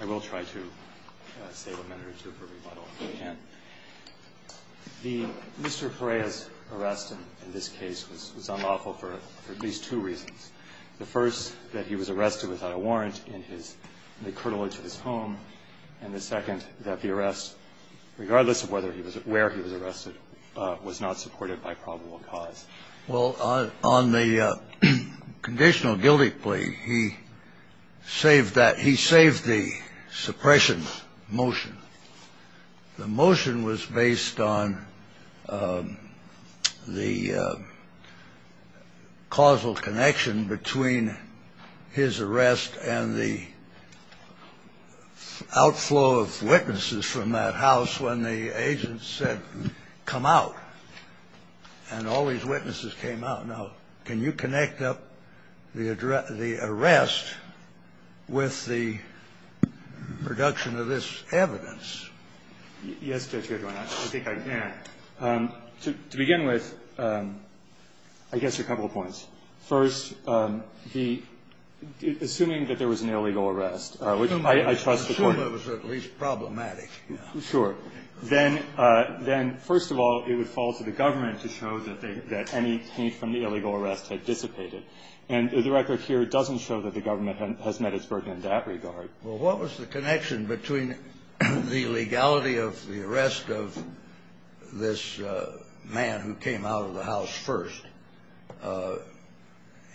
I will try to save a minute or two for rebuttal. Mr. Perea's arrest in this case was unlawful for at least two reasons. The first, that he was arrested without a warrant in the curtilage of his home, and the second, that the arrest, regardless of where he was arrested, was not supported by probable cause. Well, on the conditional guilty plea, he saved that. He saved the suppression motion. The motion was based on the causal connection between his arrest and the outflow of witnesses from that house when the agents had come out, and all these witnesses came out. Now, can you connect up the arrest with the production of this evidence? Yes, Judge Gershwin. I think I can. To begin with, I guess, a couple of points. First, the – assuming that there was an illegal arrest, which I trust the Court was at least problematic, yeah. Sure. Then, first of all, it would fall to the government to show that they – that any hint from the illegal arrest had dissipated. And the record here doesn't show that the government has met its burden in that regard. Well, what was the connection between the legality of the arrest of this man who came out of the house first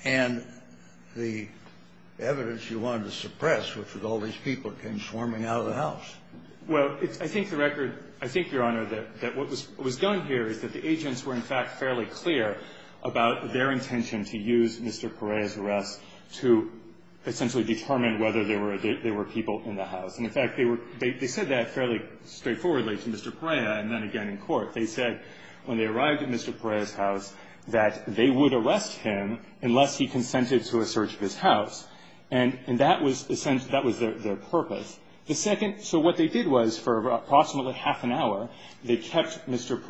and the evidence you wanted to suppress, which was all these people who came swarming out of the house? Well, it's – I think the record – I think, Your Honor, that what was done here is that the agents were, in fact, fairly clear about their intention to use Mr. Perea's arrest to essentially determine whether there were people in the house. And, in fact, they were – they said that fairly straightforwardly to Mr. Perea, and then again in court. They said, when they arrived at Mr. Perea's house, that they would arrest him unless he consented to a search of his house. And that was essentially – that was their purpose. The second – so what they did was, for approximately half an hour, they kept Mr.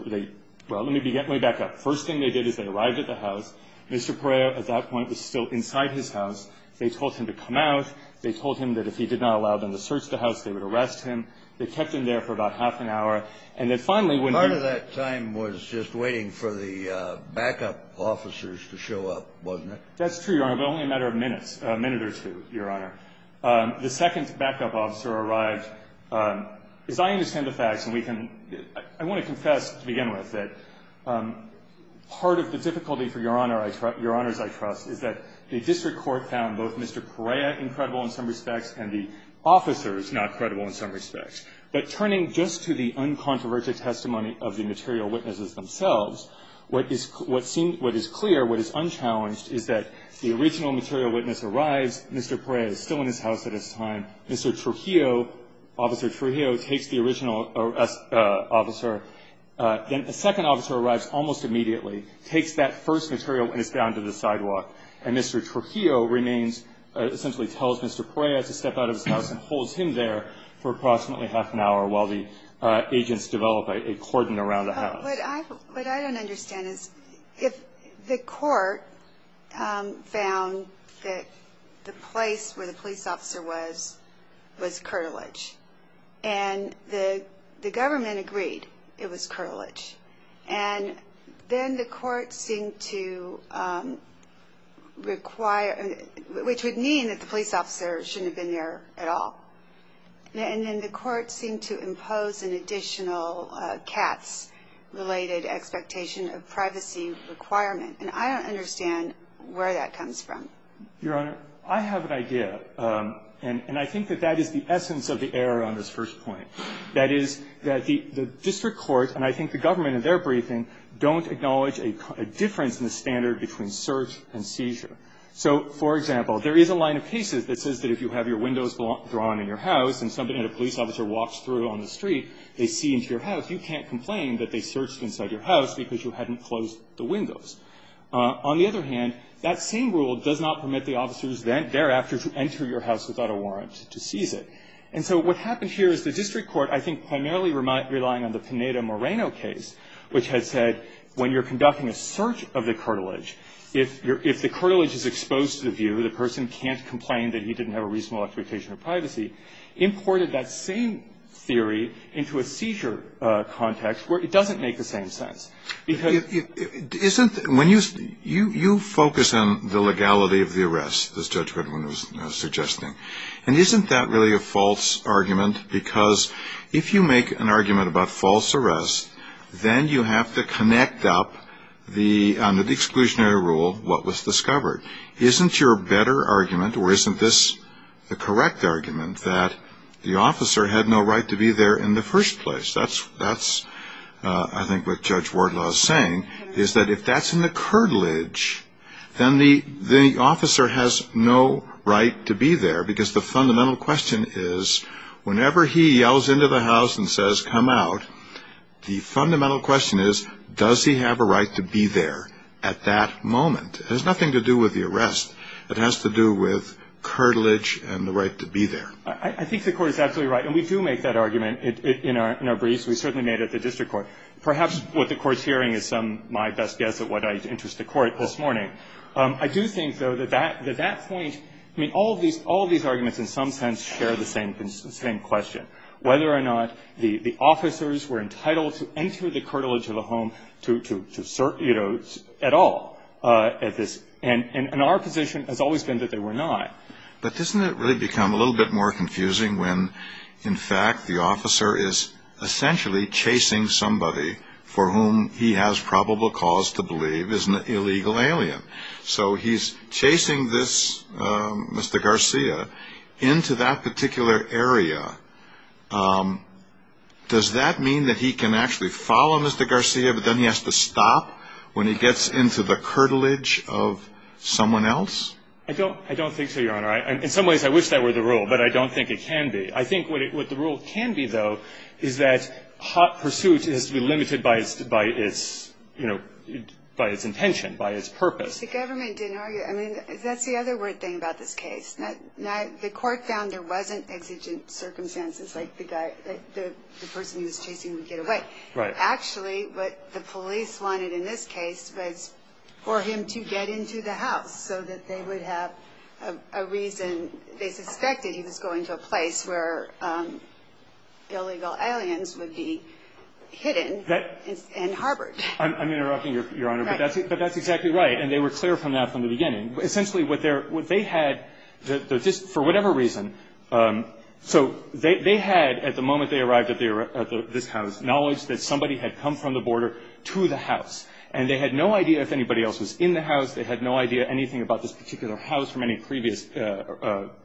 – well, let me get my back up. First thing they did is they arrived at the house. Mr. Perea, at that point, was still inside his house. They told him to come out. They told him that if he did not allow them to search the house, they would arrest him. They kept him there for about half an hour. And then, finally, when he – Part of that time was just waiting for the backup officers to show up, wasn't it? That's true, Your Honor, but only a matter of minutes, a minute or two, Your Honor. The second backup officer arrived. As I understand the facts, and we can – I want to confess, to begin with, that part of the difficulty for Your Honor – Your Honors, I trust, is that the district court found both Mr. Perea incredible in some respects and the officers not credible in some respects. But turning just to the uncontroversial testimony of the material witnesses themselves, what is – what seems – what is clear, what is unchallenged, is that the original material witness arrives. Mr. Perea is still in his house at this time. Mr. Trujillo, Officer Trujillo, takes the original officer. Then a second officer arrives almost immediately, takes that first material witness down to the sidewalk. And Mr. Trujillo remains – essentially tells Mr. Perea to step out of his house and holds him there for approximately half an hour while the agents develop a cordon around the house. What I – what I don't understand is if the court found that the place where the police officer was was curtilage, and the government agreed it was curtilage, and then the court seemed to require – which would mean that the police officer shouldn't have been there at all. And then the court seemed to impose an additional CATS-related expectation of privacy requirement. And I don't understand where that comes from. Your Honor, I have an idea. And I think that that is the essence of the error on this first point. That is, that the district court, and I think the government in their briefing, don't acknowledge a difference in the standard between search and seizure. So, for example, there is a line of cases that says that if you have your windows drawn in your house and somebody, a police officer, walks through on the street, they see into your house, you can't complain that they searched inside your house because you hadn't closed the windows. On the other hand, that same rule does not permit the officers thereafter to enter your house without a warrant to seize it. And so what happened here is the district court, I think, primarily relying on the Pineda-Moreno case, which had said, when you're conducting a search of the curtilage, if the curtilage is exposed to the viewer, the person can't complain that he didn't have a reasonable expectation of privacy, imported that same theory into a seizure context where it doesn't make the same sense. Because... Isn't... When you... You focus on the legality of the arrest, as Judge Goodwin was suggesting. And isn't that really a false argument? Because if you make an argument about false arrest, then you have to connect up the, under the exclusionary rule, what was discovered. Isn't your better argument, or isn't this the correct argument, that the officer had no right to be there in the first place? That's, I think, what Judge Wardlaw is saying, is that if that's in the curtilage, then the officer has no right to be there. Because the fundamental question is, whenever he yells into the crowd, the fundamental question is, does he have a right to be there at that moment? It has nothing to do with the arrest. It has to do with curtilage and the right to be there. I think the Court is absolutely right. And we do make that argument in our briefs. We certainly made it at the district court. Perhaps what the Court's hearing is some of my best guess at what interests the Court this morning. I do think, though, that that point, I mean, all of these arguments, in some sense, share the same question. Whether or not the officers were entitled to enter the curtilage of the home to search, you know, at all at this. And our position has always been that they were not. But doesn't it really become a little bit more confusing when, in fact, the officer is essentially chasing somebody for whom he has probable cause to believe is an accomplice? Does that mean that he can actually follow Mr. Garcia, but then he has to stop when he gets into the curtilage of someone else? I don't think so, Your Honor. In some ways, I wish that were the rule. But I don't think it can be. I think what the rule can be, though, is that hot pursuit has to be limited by its, you know, by its intention, by its purpose. The government didn't argue. I mean, that's the other weird thing about this case. The court found there wasn't exigent circumstances like the guy, the person he was chasing would get away. Right. Actually, what the police wanted in this case was for him to get into the house so that they would have a reason. They suspected he was going to a place where illegal aliens would be hidden and harbored. I'm interrupting, Your Honor. Right. But that's exactly right. And they were clear from that from the beginning. Essentially, what they had, just for whatever reason, so they had, at the moment they arrived at this house, knowledge that somebody had come from the border to the house. And they had no idea if anybody else was in the house. They had no idea anything about this particular house from any previous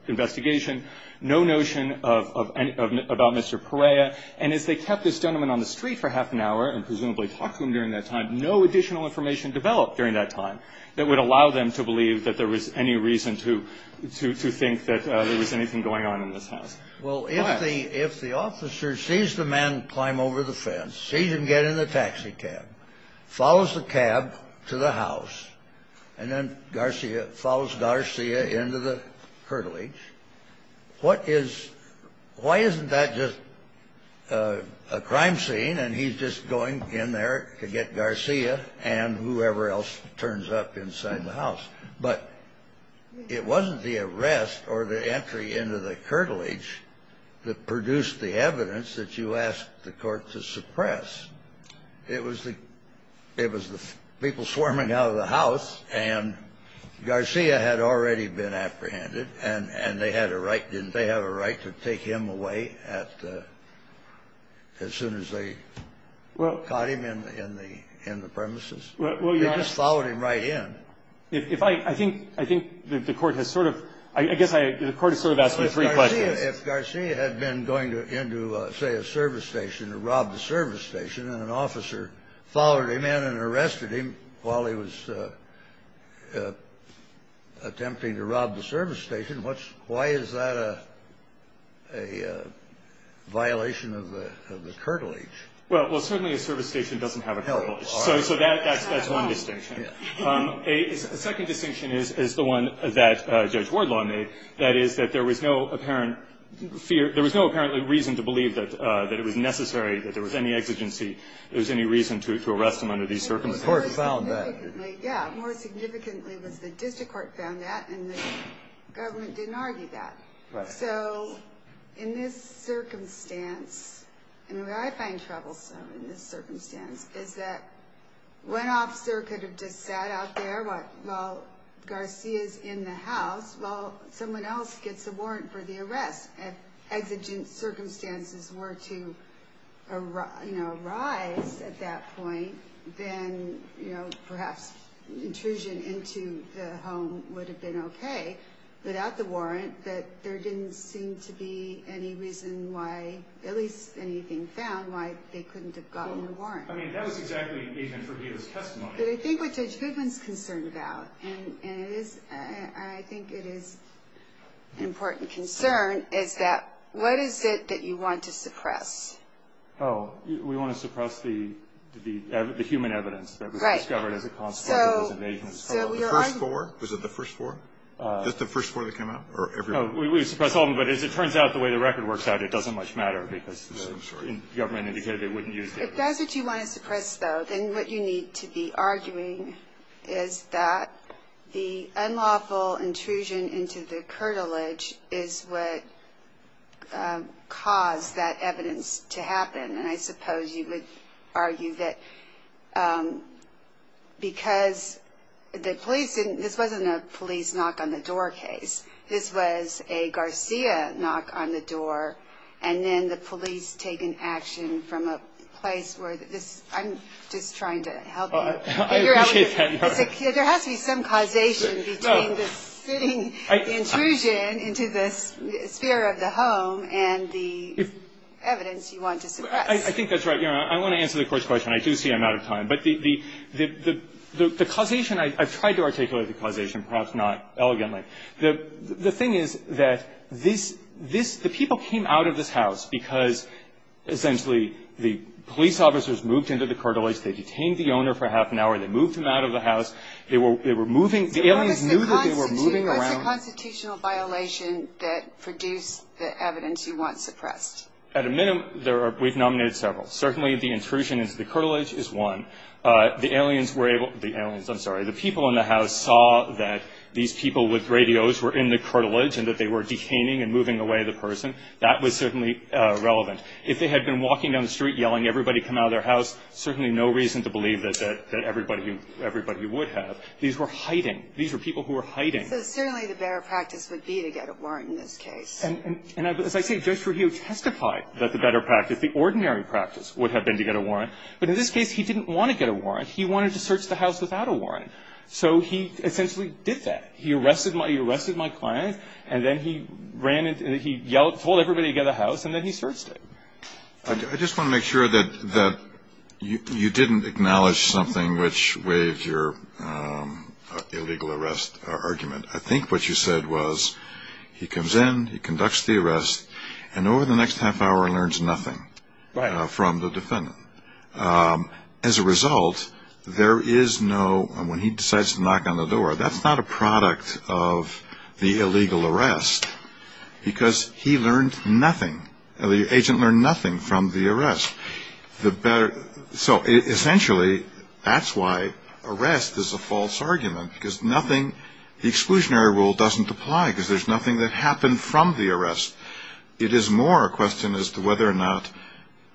investigation, no notion of about Mr. Perea. And as they kept this gentleman on the street for half an hour and presumably talked to him during that time, no additional information developed during that time that would allow them to believe that there was any reason to think that there was anything going on in this house. Well, if the if the officer sees the man climb over the fence, sees him get in the taxi cab, follows the cab to the house and then Garcia follows Garcia into the curtilage, what is why isn't that just a crime scene? And he's just going in there to get Garcia and whoever else turns up inside the house. But it wasn't the arrest or the entry into the curtilage that produced the evidence that you asked the court to suppress. It was the it was the people swarming out of the house. And Garcia had already been apprehended. And they had a right. Didn't they have a right to take him away at as soon as they caught him in the in the premises? Well, you just followed him right in. If I think I think the court has sort of I guess the court has sort of asked me three questions. If Garcia had been going into, say, a service station to rob the service station and an officer followed him in and arrested him while he was attempting to rob the service station, what's why is that a a violation of the of the curtilage? Well, certainly a service station doesn't have a curtilage, so that's that's one distinction. A second distinction is is the one that Judge Wardlaw made, that is that there was no apparent fear. There was no apparent reason to believe that that it was necessary, that there was any exigency, there was any reason to arrest him under these circumstances. The court found that. Yeah, more significantly was the district court found that and the government didn't argue that. So in this circumstance, and I find troublesome in this circumstance, is that one officer could have just sat out there while Garcia is in the house while someone else gets a warrant for the arrest. If exigent circumstances were to arise at that point, then, you know, perhaps intrusion into the home would have been OK without the warrant, but there didn't seem to be any reason why, at least anything found, why they couldn't have gotten the warrant. I mean, that was exactly even for his testimony. But I think what Judge Goodwin's concerned about, and it is I think it is an important concern, is that what is it that you want to suppress? Oh, we want to suppress the the the human evidence that was discovered as a consequence of those invasions. So the first four, was it the first four, just the first four that came out or? We suppress all of them, but as it turns out, the way the record works out, it doesn't much matter because the government indicated they wouldn't use it. If that's what you want to suppress, though, then what you need to be arguing is that the unlawful intrusion into the curtilage is what caused that evidence to happen. And I suppose you would argue that because the police didn't this wasn't a police knock on the door case. This was a Garcia knock on the door. And then the police taking action from a place where this I'm just trying to help. I appreciate that. There has to be some causation between the sitting intrusion into this sphere of the home and the evidence you want to suppress. I think that's right. You know, I want to answer the court's question. I do see I'm out of time. But the causation, I've tried to articulate the causation, perhaps not elegantly. The thing is that this this the people came out of this house because essentially the police officers moved into the curtilage. They detained the owner for half an hour. They moved him out of the house. They were they were moving. The aliens knew that they were moving around. It's a constitutional violation that produced the evidence you want suppressed. At a minimum, there are we've nominated several. Certainly the intrusion into the curtilage is one. The aliens were able the aliens. I'm sorry. The people in the house saw that these people with radios were in the curtilage and that they were detaining and moving away the person. That was certainly relevant. If they had been walking down the street yelling, everybody come out of their house. Certainly no reason to believe that that everybody, everybody would have. These were hiding. These are people who are hiding. So certainly the better practice would be to get a warrant in this case. And as I say, Judge Ruhio testified that the better practice, the ordinary practice would have been to get a warrant. But in this case, he didn't want to get a warrant. He wanted to search the house without a warrant. So he essentially did that. He arrested my, he arrested my client and then he ran and he yelled, told everybody to get the house and then he searched it. I just want to make sure that that you didn't acknowledge something which waves your, um, illegal arrest argument. I think what you said was he comes in, he conducts the arrest and over the next half hour learns nothing from the defendant. Um, as a result, there is no, and when he decides to knock on the door, that's not a product of the illegal arrest because he learned nothing. And the agent learned nothing from the arrest, the better. So essentially that's why arrest is a false argument because nothing, the exclusionary rule doesn't apply because there's nothing that happened from the arrest. It is more a question as to whether or not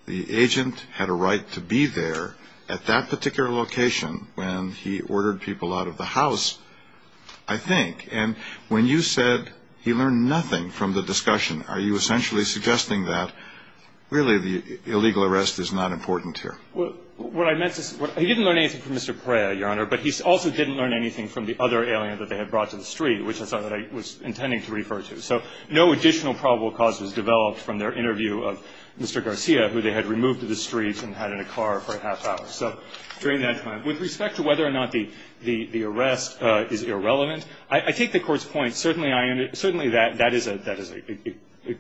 the agent had a right to be there at that particular location when he ordered people out of the house, I think. And when you said he learned nothing from the discussion, are you essentially suggesting that really the illegal arrest is not important here? Well, what I meant to say, he didn't learn anything from Mr. Perea, Your Honor, but he also didn't learn anything from the other alien that they had brought to the street, which I thought that I was intending to refer to. So no additional probable cause was developed from their interview of Mr. Garcia, who they had removed to the streets and had in a car for a half hour. So during that time, with respect to whether or not the, the, the arrest, uh, is irrelevant, I, I take the Court's point. Certainly I, certainly that, that is a, that is a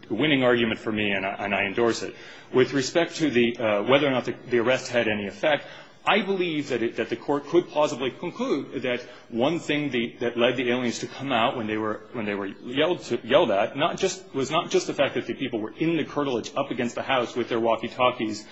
winning argument for me and I, and I endorse it. With respect to the, uh, whether or not the, the arrest had any effect, I believe that it, that the Court could plausibly conclude that one thing the, that led the aliens to come out when they were, when they were yelled, yelled at, not just, was not just the fact that the people were in the curtilage up against the house with their walkie-talkies,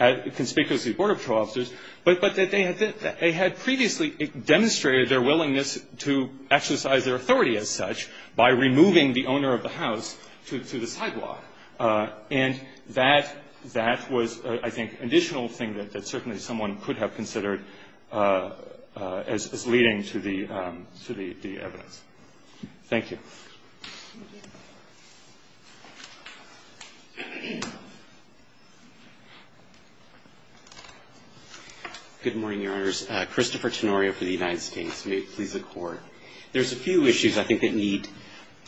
uh, conspicuously Border Patrol officers, but, but that they had, they had previously demonstrated their willingness to exercise their authority as such by removing the owner of the house to, to the sidewalk. Uh, and that, that was, uh, I think, an additional thing that, that certainly someone could have considered, uh, uh, as, as leading to the, um, to the, the evidence. Thank you. Christopher Tenorio for the United States. May it please the Court. There's a few issues I think that need,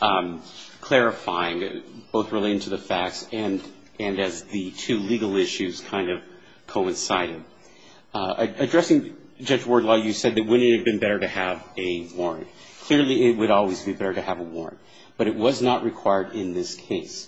um, clarifying, both relating to the facts and, and as the two legal issues kind of coincided, uh, addressing Judge Wardlaw, you said that wouldn't it have been better to have a warrant? Clearly it would always be better to have a warrant, but it was not required in this case.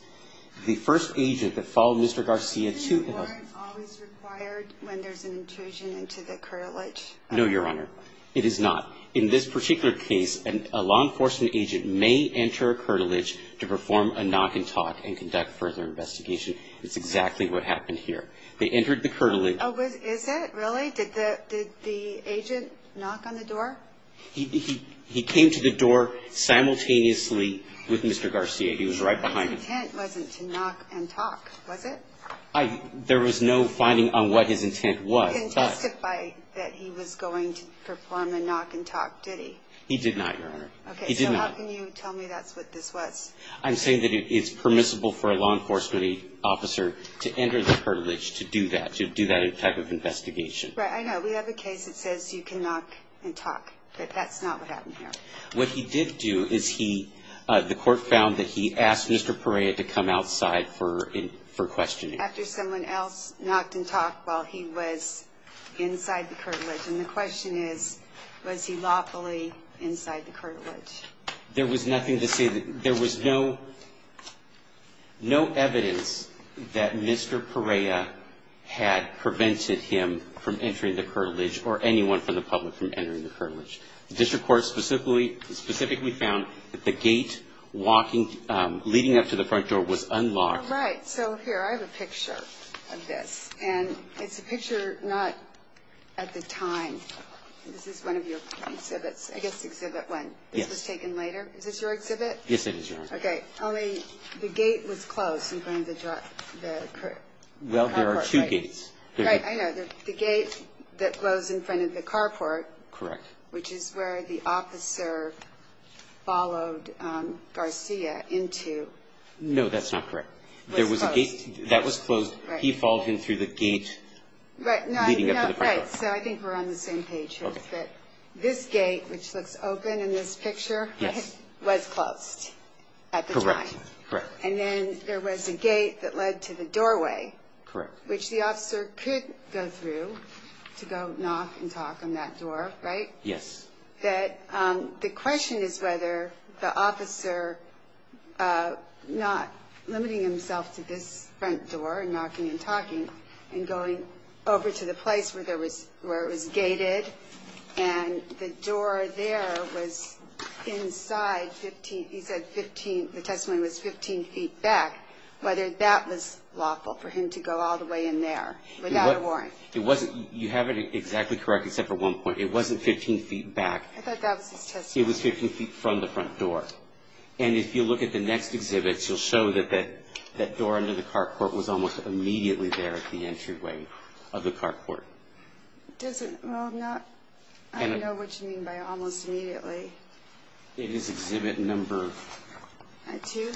The first agent that followed Mr. Garcia to... Isn't a warrant always required when there's an intrusion into the curtilage? No, Your Honor. It is not. In this particular case, a law enforcement agent may enter a curtilage to perform a knock and talk and conduct further investigation. It's exactly what happened here. They entered the curtilage. Oh, was, is it? Really? Did the, did the agent knock on the door? He, he, he came to the door simultaneously with Mr. Garcia. He was right behind him. His intent wasn't to knock and talk, was it? I, there was no finding on what his intent was. He didn't testify that he was going to perform a knock and talk, did he? He did not, Your Honor. Okay. So how can you tell me that's what this was? I'm saying that it's permissible for a law enforcement officer to enter the curtilage to do that, to do that type of investigation. Right. I know we have a case that says you can knock and talk, but that's not what happened here. What he did do is he, uh, the court found that he asked Mr. Perea to come outside for, for questioning. After someone else knocked and talked while he was inside the curtilage. And the question is, was he lawfully inside the curtilage? There was nothing to say that there was no, no evidence that Mr. Perea had prevented him from entering the curtilage or anyone from the public from entering the curtilage. The district court specifically, specifically found that the gate walking, um, leading up to the front door was unlocked. Right. So here, I have a picture of this and it's a picture, not at the time. This is one of your exhibits, I guess, exhibit when this was taken later. Is this your exhibit? Yes, it is. Okay. Only the gate was closed in front of the carport, right? Well, there are two gates. Right. I know the gate that goes in front of the carport. Correct. Which is where the officer followed, um, Garcia into. No, that's not correct. There was a gate that was closed. He followed him through the gate leading up to the front door. So I think we're on the same page here, that this gate, which looks open in this picture, was closed at the time. And then there was a gate that led to the doorway, which the officer could go through to go knock and talk on that door, right? Yes. That, um, the question is whether the officer, uh, not limiting himself to this front door and knocking and talking and going over to the place where there was, where it was gated and the door there was inside 15, he said 15, the testimony was 15 feet back, whether that was lawful for him to go all the way in there without a warrant. It wasn't, you have it exactly correct except for one point. It wasn't 15 feet back. It was 15 feet from the front door. And if you look at the next exhibits, you'll show that that, that door under the carport was almost immediately there at the entryway of the carport. Does it? Well, I'm not, I don't know what you mean by almost immediately. It is exhibit number two.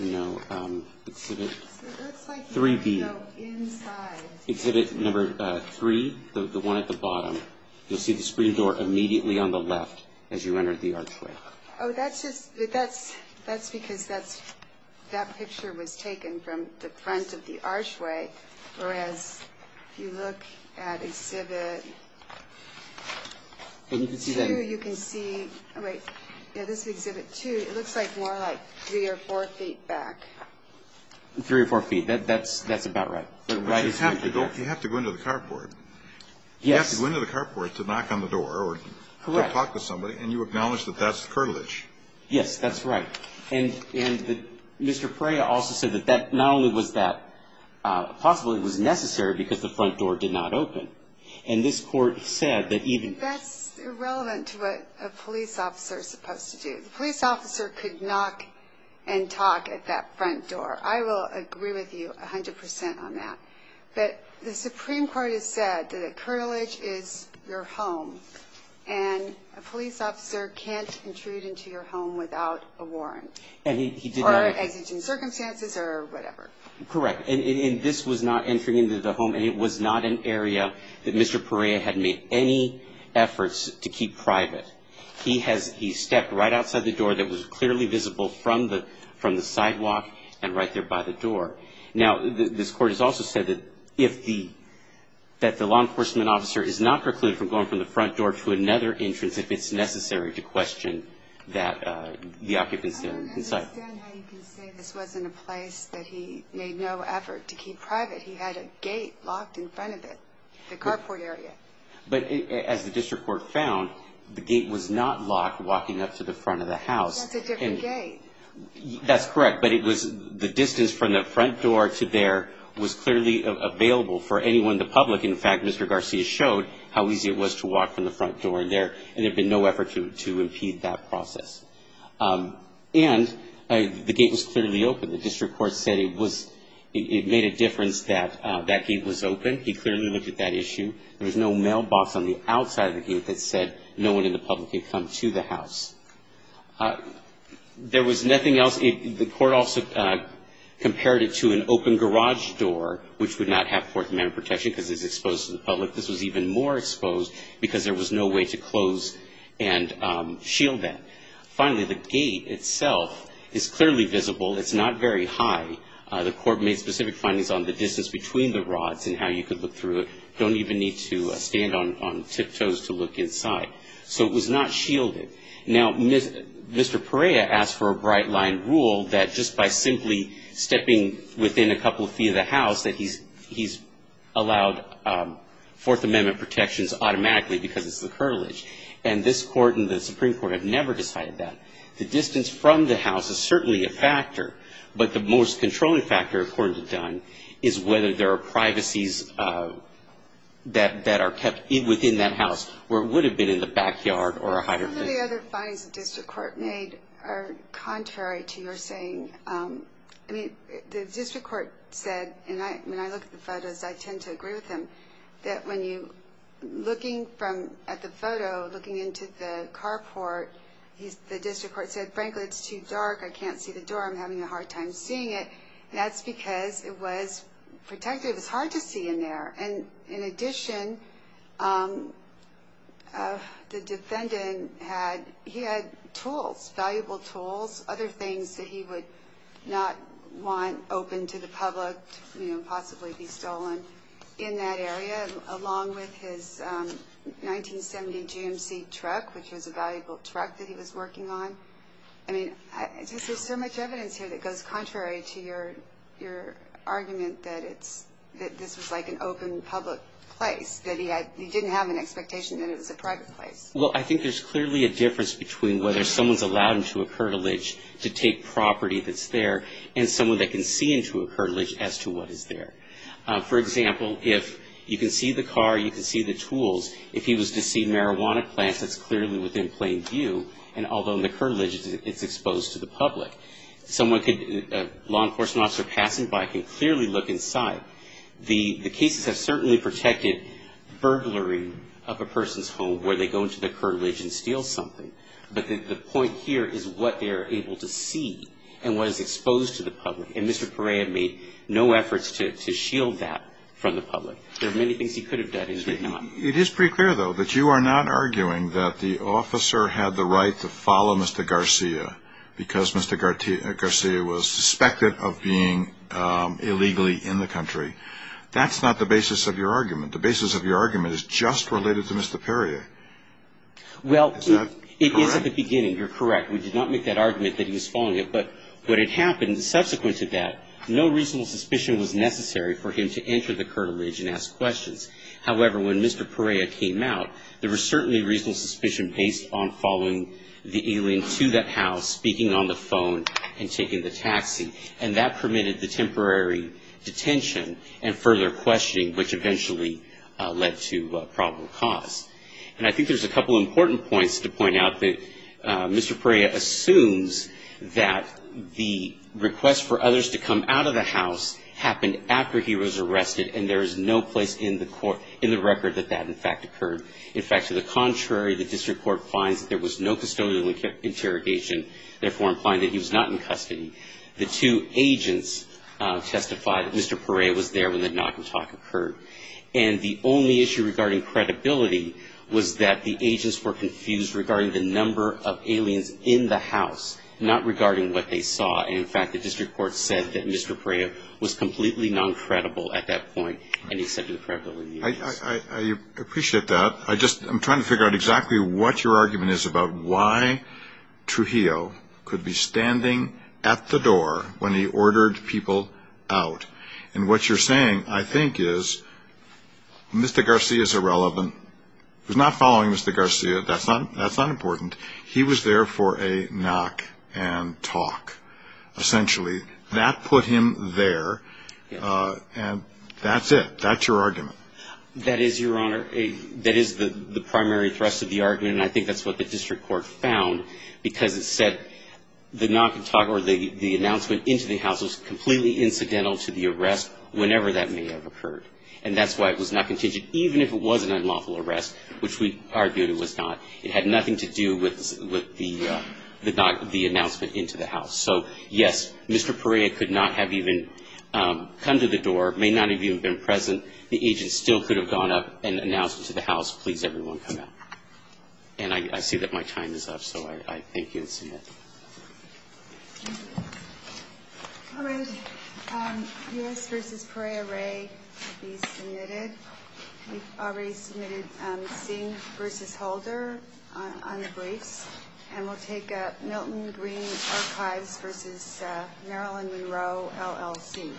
No, um, exhibit three B. Inside exhibit number three, the one at the bottom, you'll see the screen door immediately on the left as you entered the archway. Oh, that's just, that's, that's because that's, that picture was taken from the front of the archway, whereas if you look at exhibit two, you can see, wait, yeah, this exhibit two, it looks like more like three or four feet back. Three or four feet. That, that's, that's about right. But you have to go, you have to go into the carport. You have to go into the carport to knock on the door or to talk to somebody. And you acknowledge that that's the curtilage. Yes, that's right. And, and Mr. Perea also said that that not only was that possibly was necessary because the front door did not open and this court said that even. That's irrelevant to what a police officer is supposed to do. The police officer could knock and talk at that front door. I will agree with you a hundred percent on that, but the Supreme Court has said that the curtilage is your home and a police officer can't intrude into your home without a warrant or exigent circumstances or whatever. Correct. And this was not entering into the home. And it was not an area that Mr. Perea had made any efforts to keep private. He has, he stepped right outside the door that was clearly visible from the, the sidewalk and right there by the door. Now, this court has also said that if the, that the law enforcement officer is not precluded from going from the front door to another entrance, if it's necessary to question that the occupants inside. I don't understand how you can say this wasn't a place that he made no effort to keep private. He had a gate locked in front of it, the carport area. But as the district court found, the gate was not locked walking up to the front of the house. That's a different gate. That's correct. But it was the distance from the front door to there was clearly available for anyone in the public. In fact, Mr. Garcia showed how easy it was to walk from the front door in there. And there'd been no effort to, to impede that process. And the gate was clearly open. The district court said it was, it made a difference that that gate was open. He clearly looked at that issue. There was no mailbox on the outside of the gate that said no one in the public could come to the house. There was nothing else. The court also compared it to an open garage door, which would not have fourth amendment protection because it's exposed to the public. This was even more exposed because there was no way to close and shield that. Finally, the gate itself is clearly visible. It's not very high. The court made specific findings on the distance between the rods and how you could look through it. Don't even need to stand on tiptoes to look inside. So it was not shielded. Now, Mr. Perea asked for a bright line rule that just by simply stepping within a couple of feet of the house, that he's, he's allowed fourth amendment protections automatically because it's the curtilage. And this court and the Supreme court have never decided that. The distance from the house is certainly a factor, but the most controlling factor, according to Dunn, is whether there are privacies that, that are kept within that house, where it would have been in the backyard or a higher findings of district court made are contrary to your saying. I mean, the district court said, and I, when I look at the photos, I tend to agree with him that when you looking from at the photo, looking into the car port, he's the district court said, frankly, it's too dark. I can't see the door. I'm having a hard time seeing it. That's because it was protected. It was hard to see in there. And in addition, um, uh, the defendant had, he had tools, valuable tools, other things that he would not want open to the public, you know, possibly be stolen in that area, along with his, um, 1970 GMC truck, which was a valuable truck that he was working on. I mean, there's so much evidence here that goes contrary to your, your argument that it's, that this was like an open public place that he had, he didn't have an expectation that it was a private place. Well, I think there's clearly a difference between whether someone's allowed into a curtilage to take property that's there and someone that can see into a curtilage as to what is there. Uh, for example, if you can see the car, you can see the tools. If he was to see marijuana plants, that's clearly within plain view. And although the curtilage is exposed to the public, someone could, a law enforcement officer passing by can clearly look inside. The, the cases have certainly protected burglary of a person's home where they go into the curtilage and steal something. But the point here is what they're able to see and what is exposed to the public. And Mr. Perea made no efforts to, to shield that from the public. There are many things he could have done. It is pretty clear though, that you are not arguing that the officer had the right to follow Mr. Garcia because Mr. Garcia was suspected of being, um, illegally in the country. That's not the basis of your argument. The basis of your argument is just related to Mr. Perea. Well, it is at the beginning. You're correct. We did not make that argument that he was following it, but what had happened subsequent to that, no reasonable suspicion was necessary for him to enter the curtilage and ask questions. However, when Mr. Perea came out, there was certainly reasonable suspicion based on following the alien to that house, speaking on the phone and taking the taxi. And that permitted the temporary detention and further questioning, which eventually led to a probable cause. And I think there's a couple of important points to point out that Mr. Perea assumes that the request for others to come out of the house happened after he was arrested. And there is no place in the court, in the record that that in fact occurred. In fact, to the contrary, the district court finds that there was no custodial interrogation, therefore implying that he was not in custody. The two agents, uh, testified that Mr. Perea was there when the knock and talk occurred. And the only issue regarding credibility was that the agents were confused regarding the number of aliens in the house, not regarding what they saw. And in fact, the district court said that Mr. Perea was completely non-credible at that point. And he said to the credibility of the agents. I appreciate that. I just, I'm trying to figure out exactly what your argument is about why Trujillo could be standing at the door when he ordered people out. And what you're saying, I think is Mr. Garcia is irrelevant. He was not following Mr. Garcia. That's not, that's not important. He was there for a knock and talk, essentially that put him there. Uh, and that's it. That's your argument. That is your honor. A, that is the primary thrust of the argument. And I think that's what the district court found because it said the knock and talk or the, the announcement into the house was completely incidental to the arrest whenever that may have occurred. And that's why it was not contingent, even if it was an unlawful arrest, which we argued it was not, it had nothing to do with, with the, the, the announcement into the house. So yes, Mr. Perea could not have even, um, come to the door, may not have even been present. The agent still could have gone up and announced it to the house. Please everyone come out. And I see that my time is up. So I, I thank you and submit. All right. Um, yes. Versus Prea Ray to be submitted. We've already submitted, um, Singh versus Holder on, on the briefs and we'll take up Milton Green archives versus, uh, Marilyn Monroe LLC.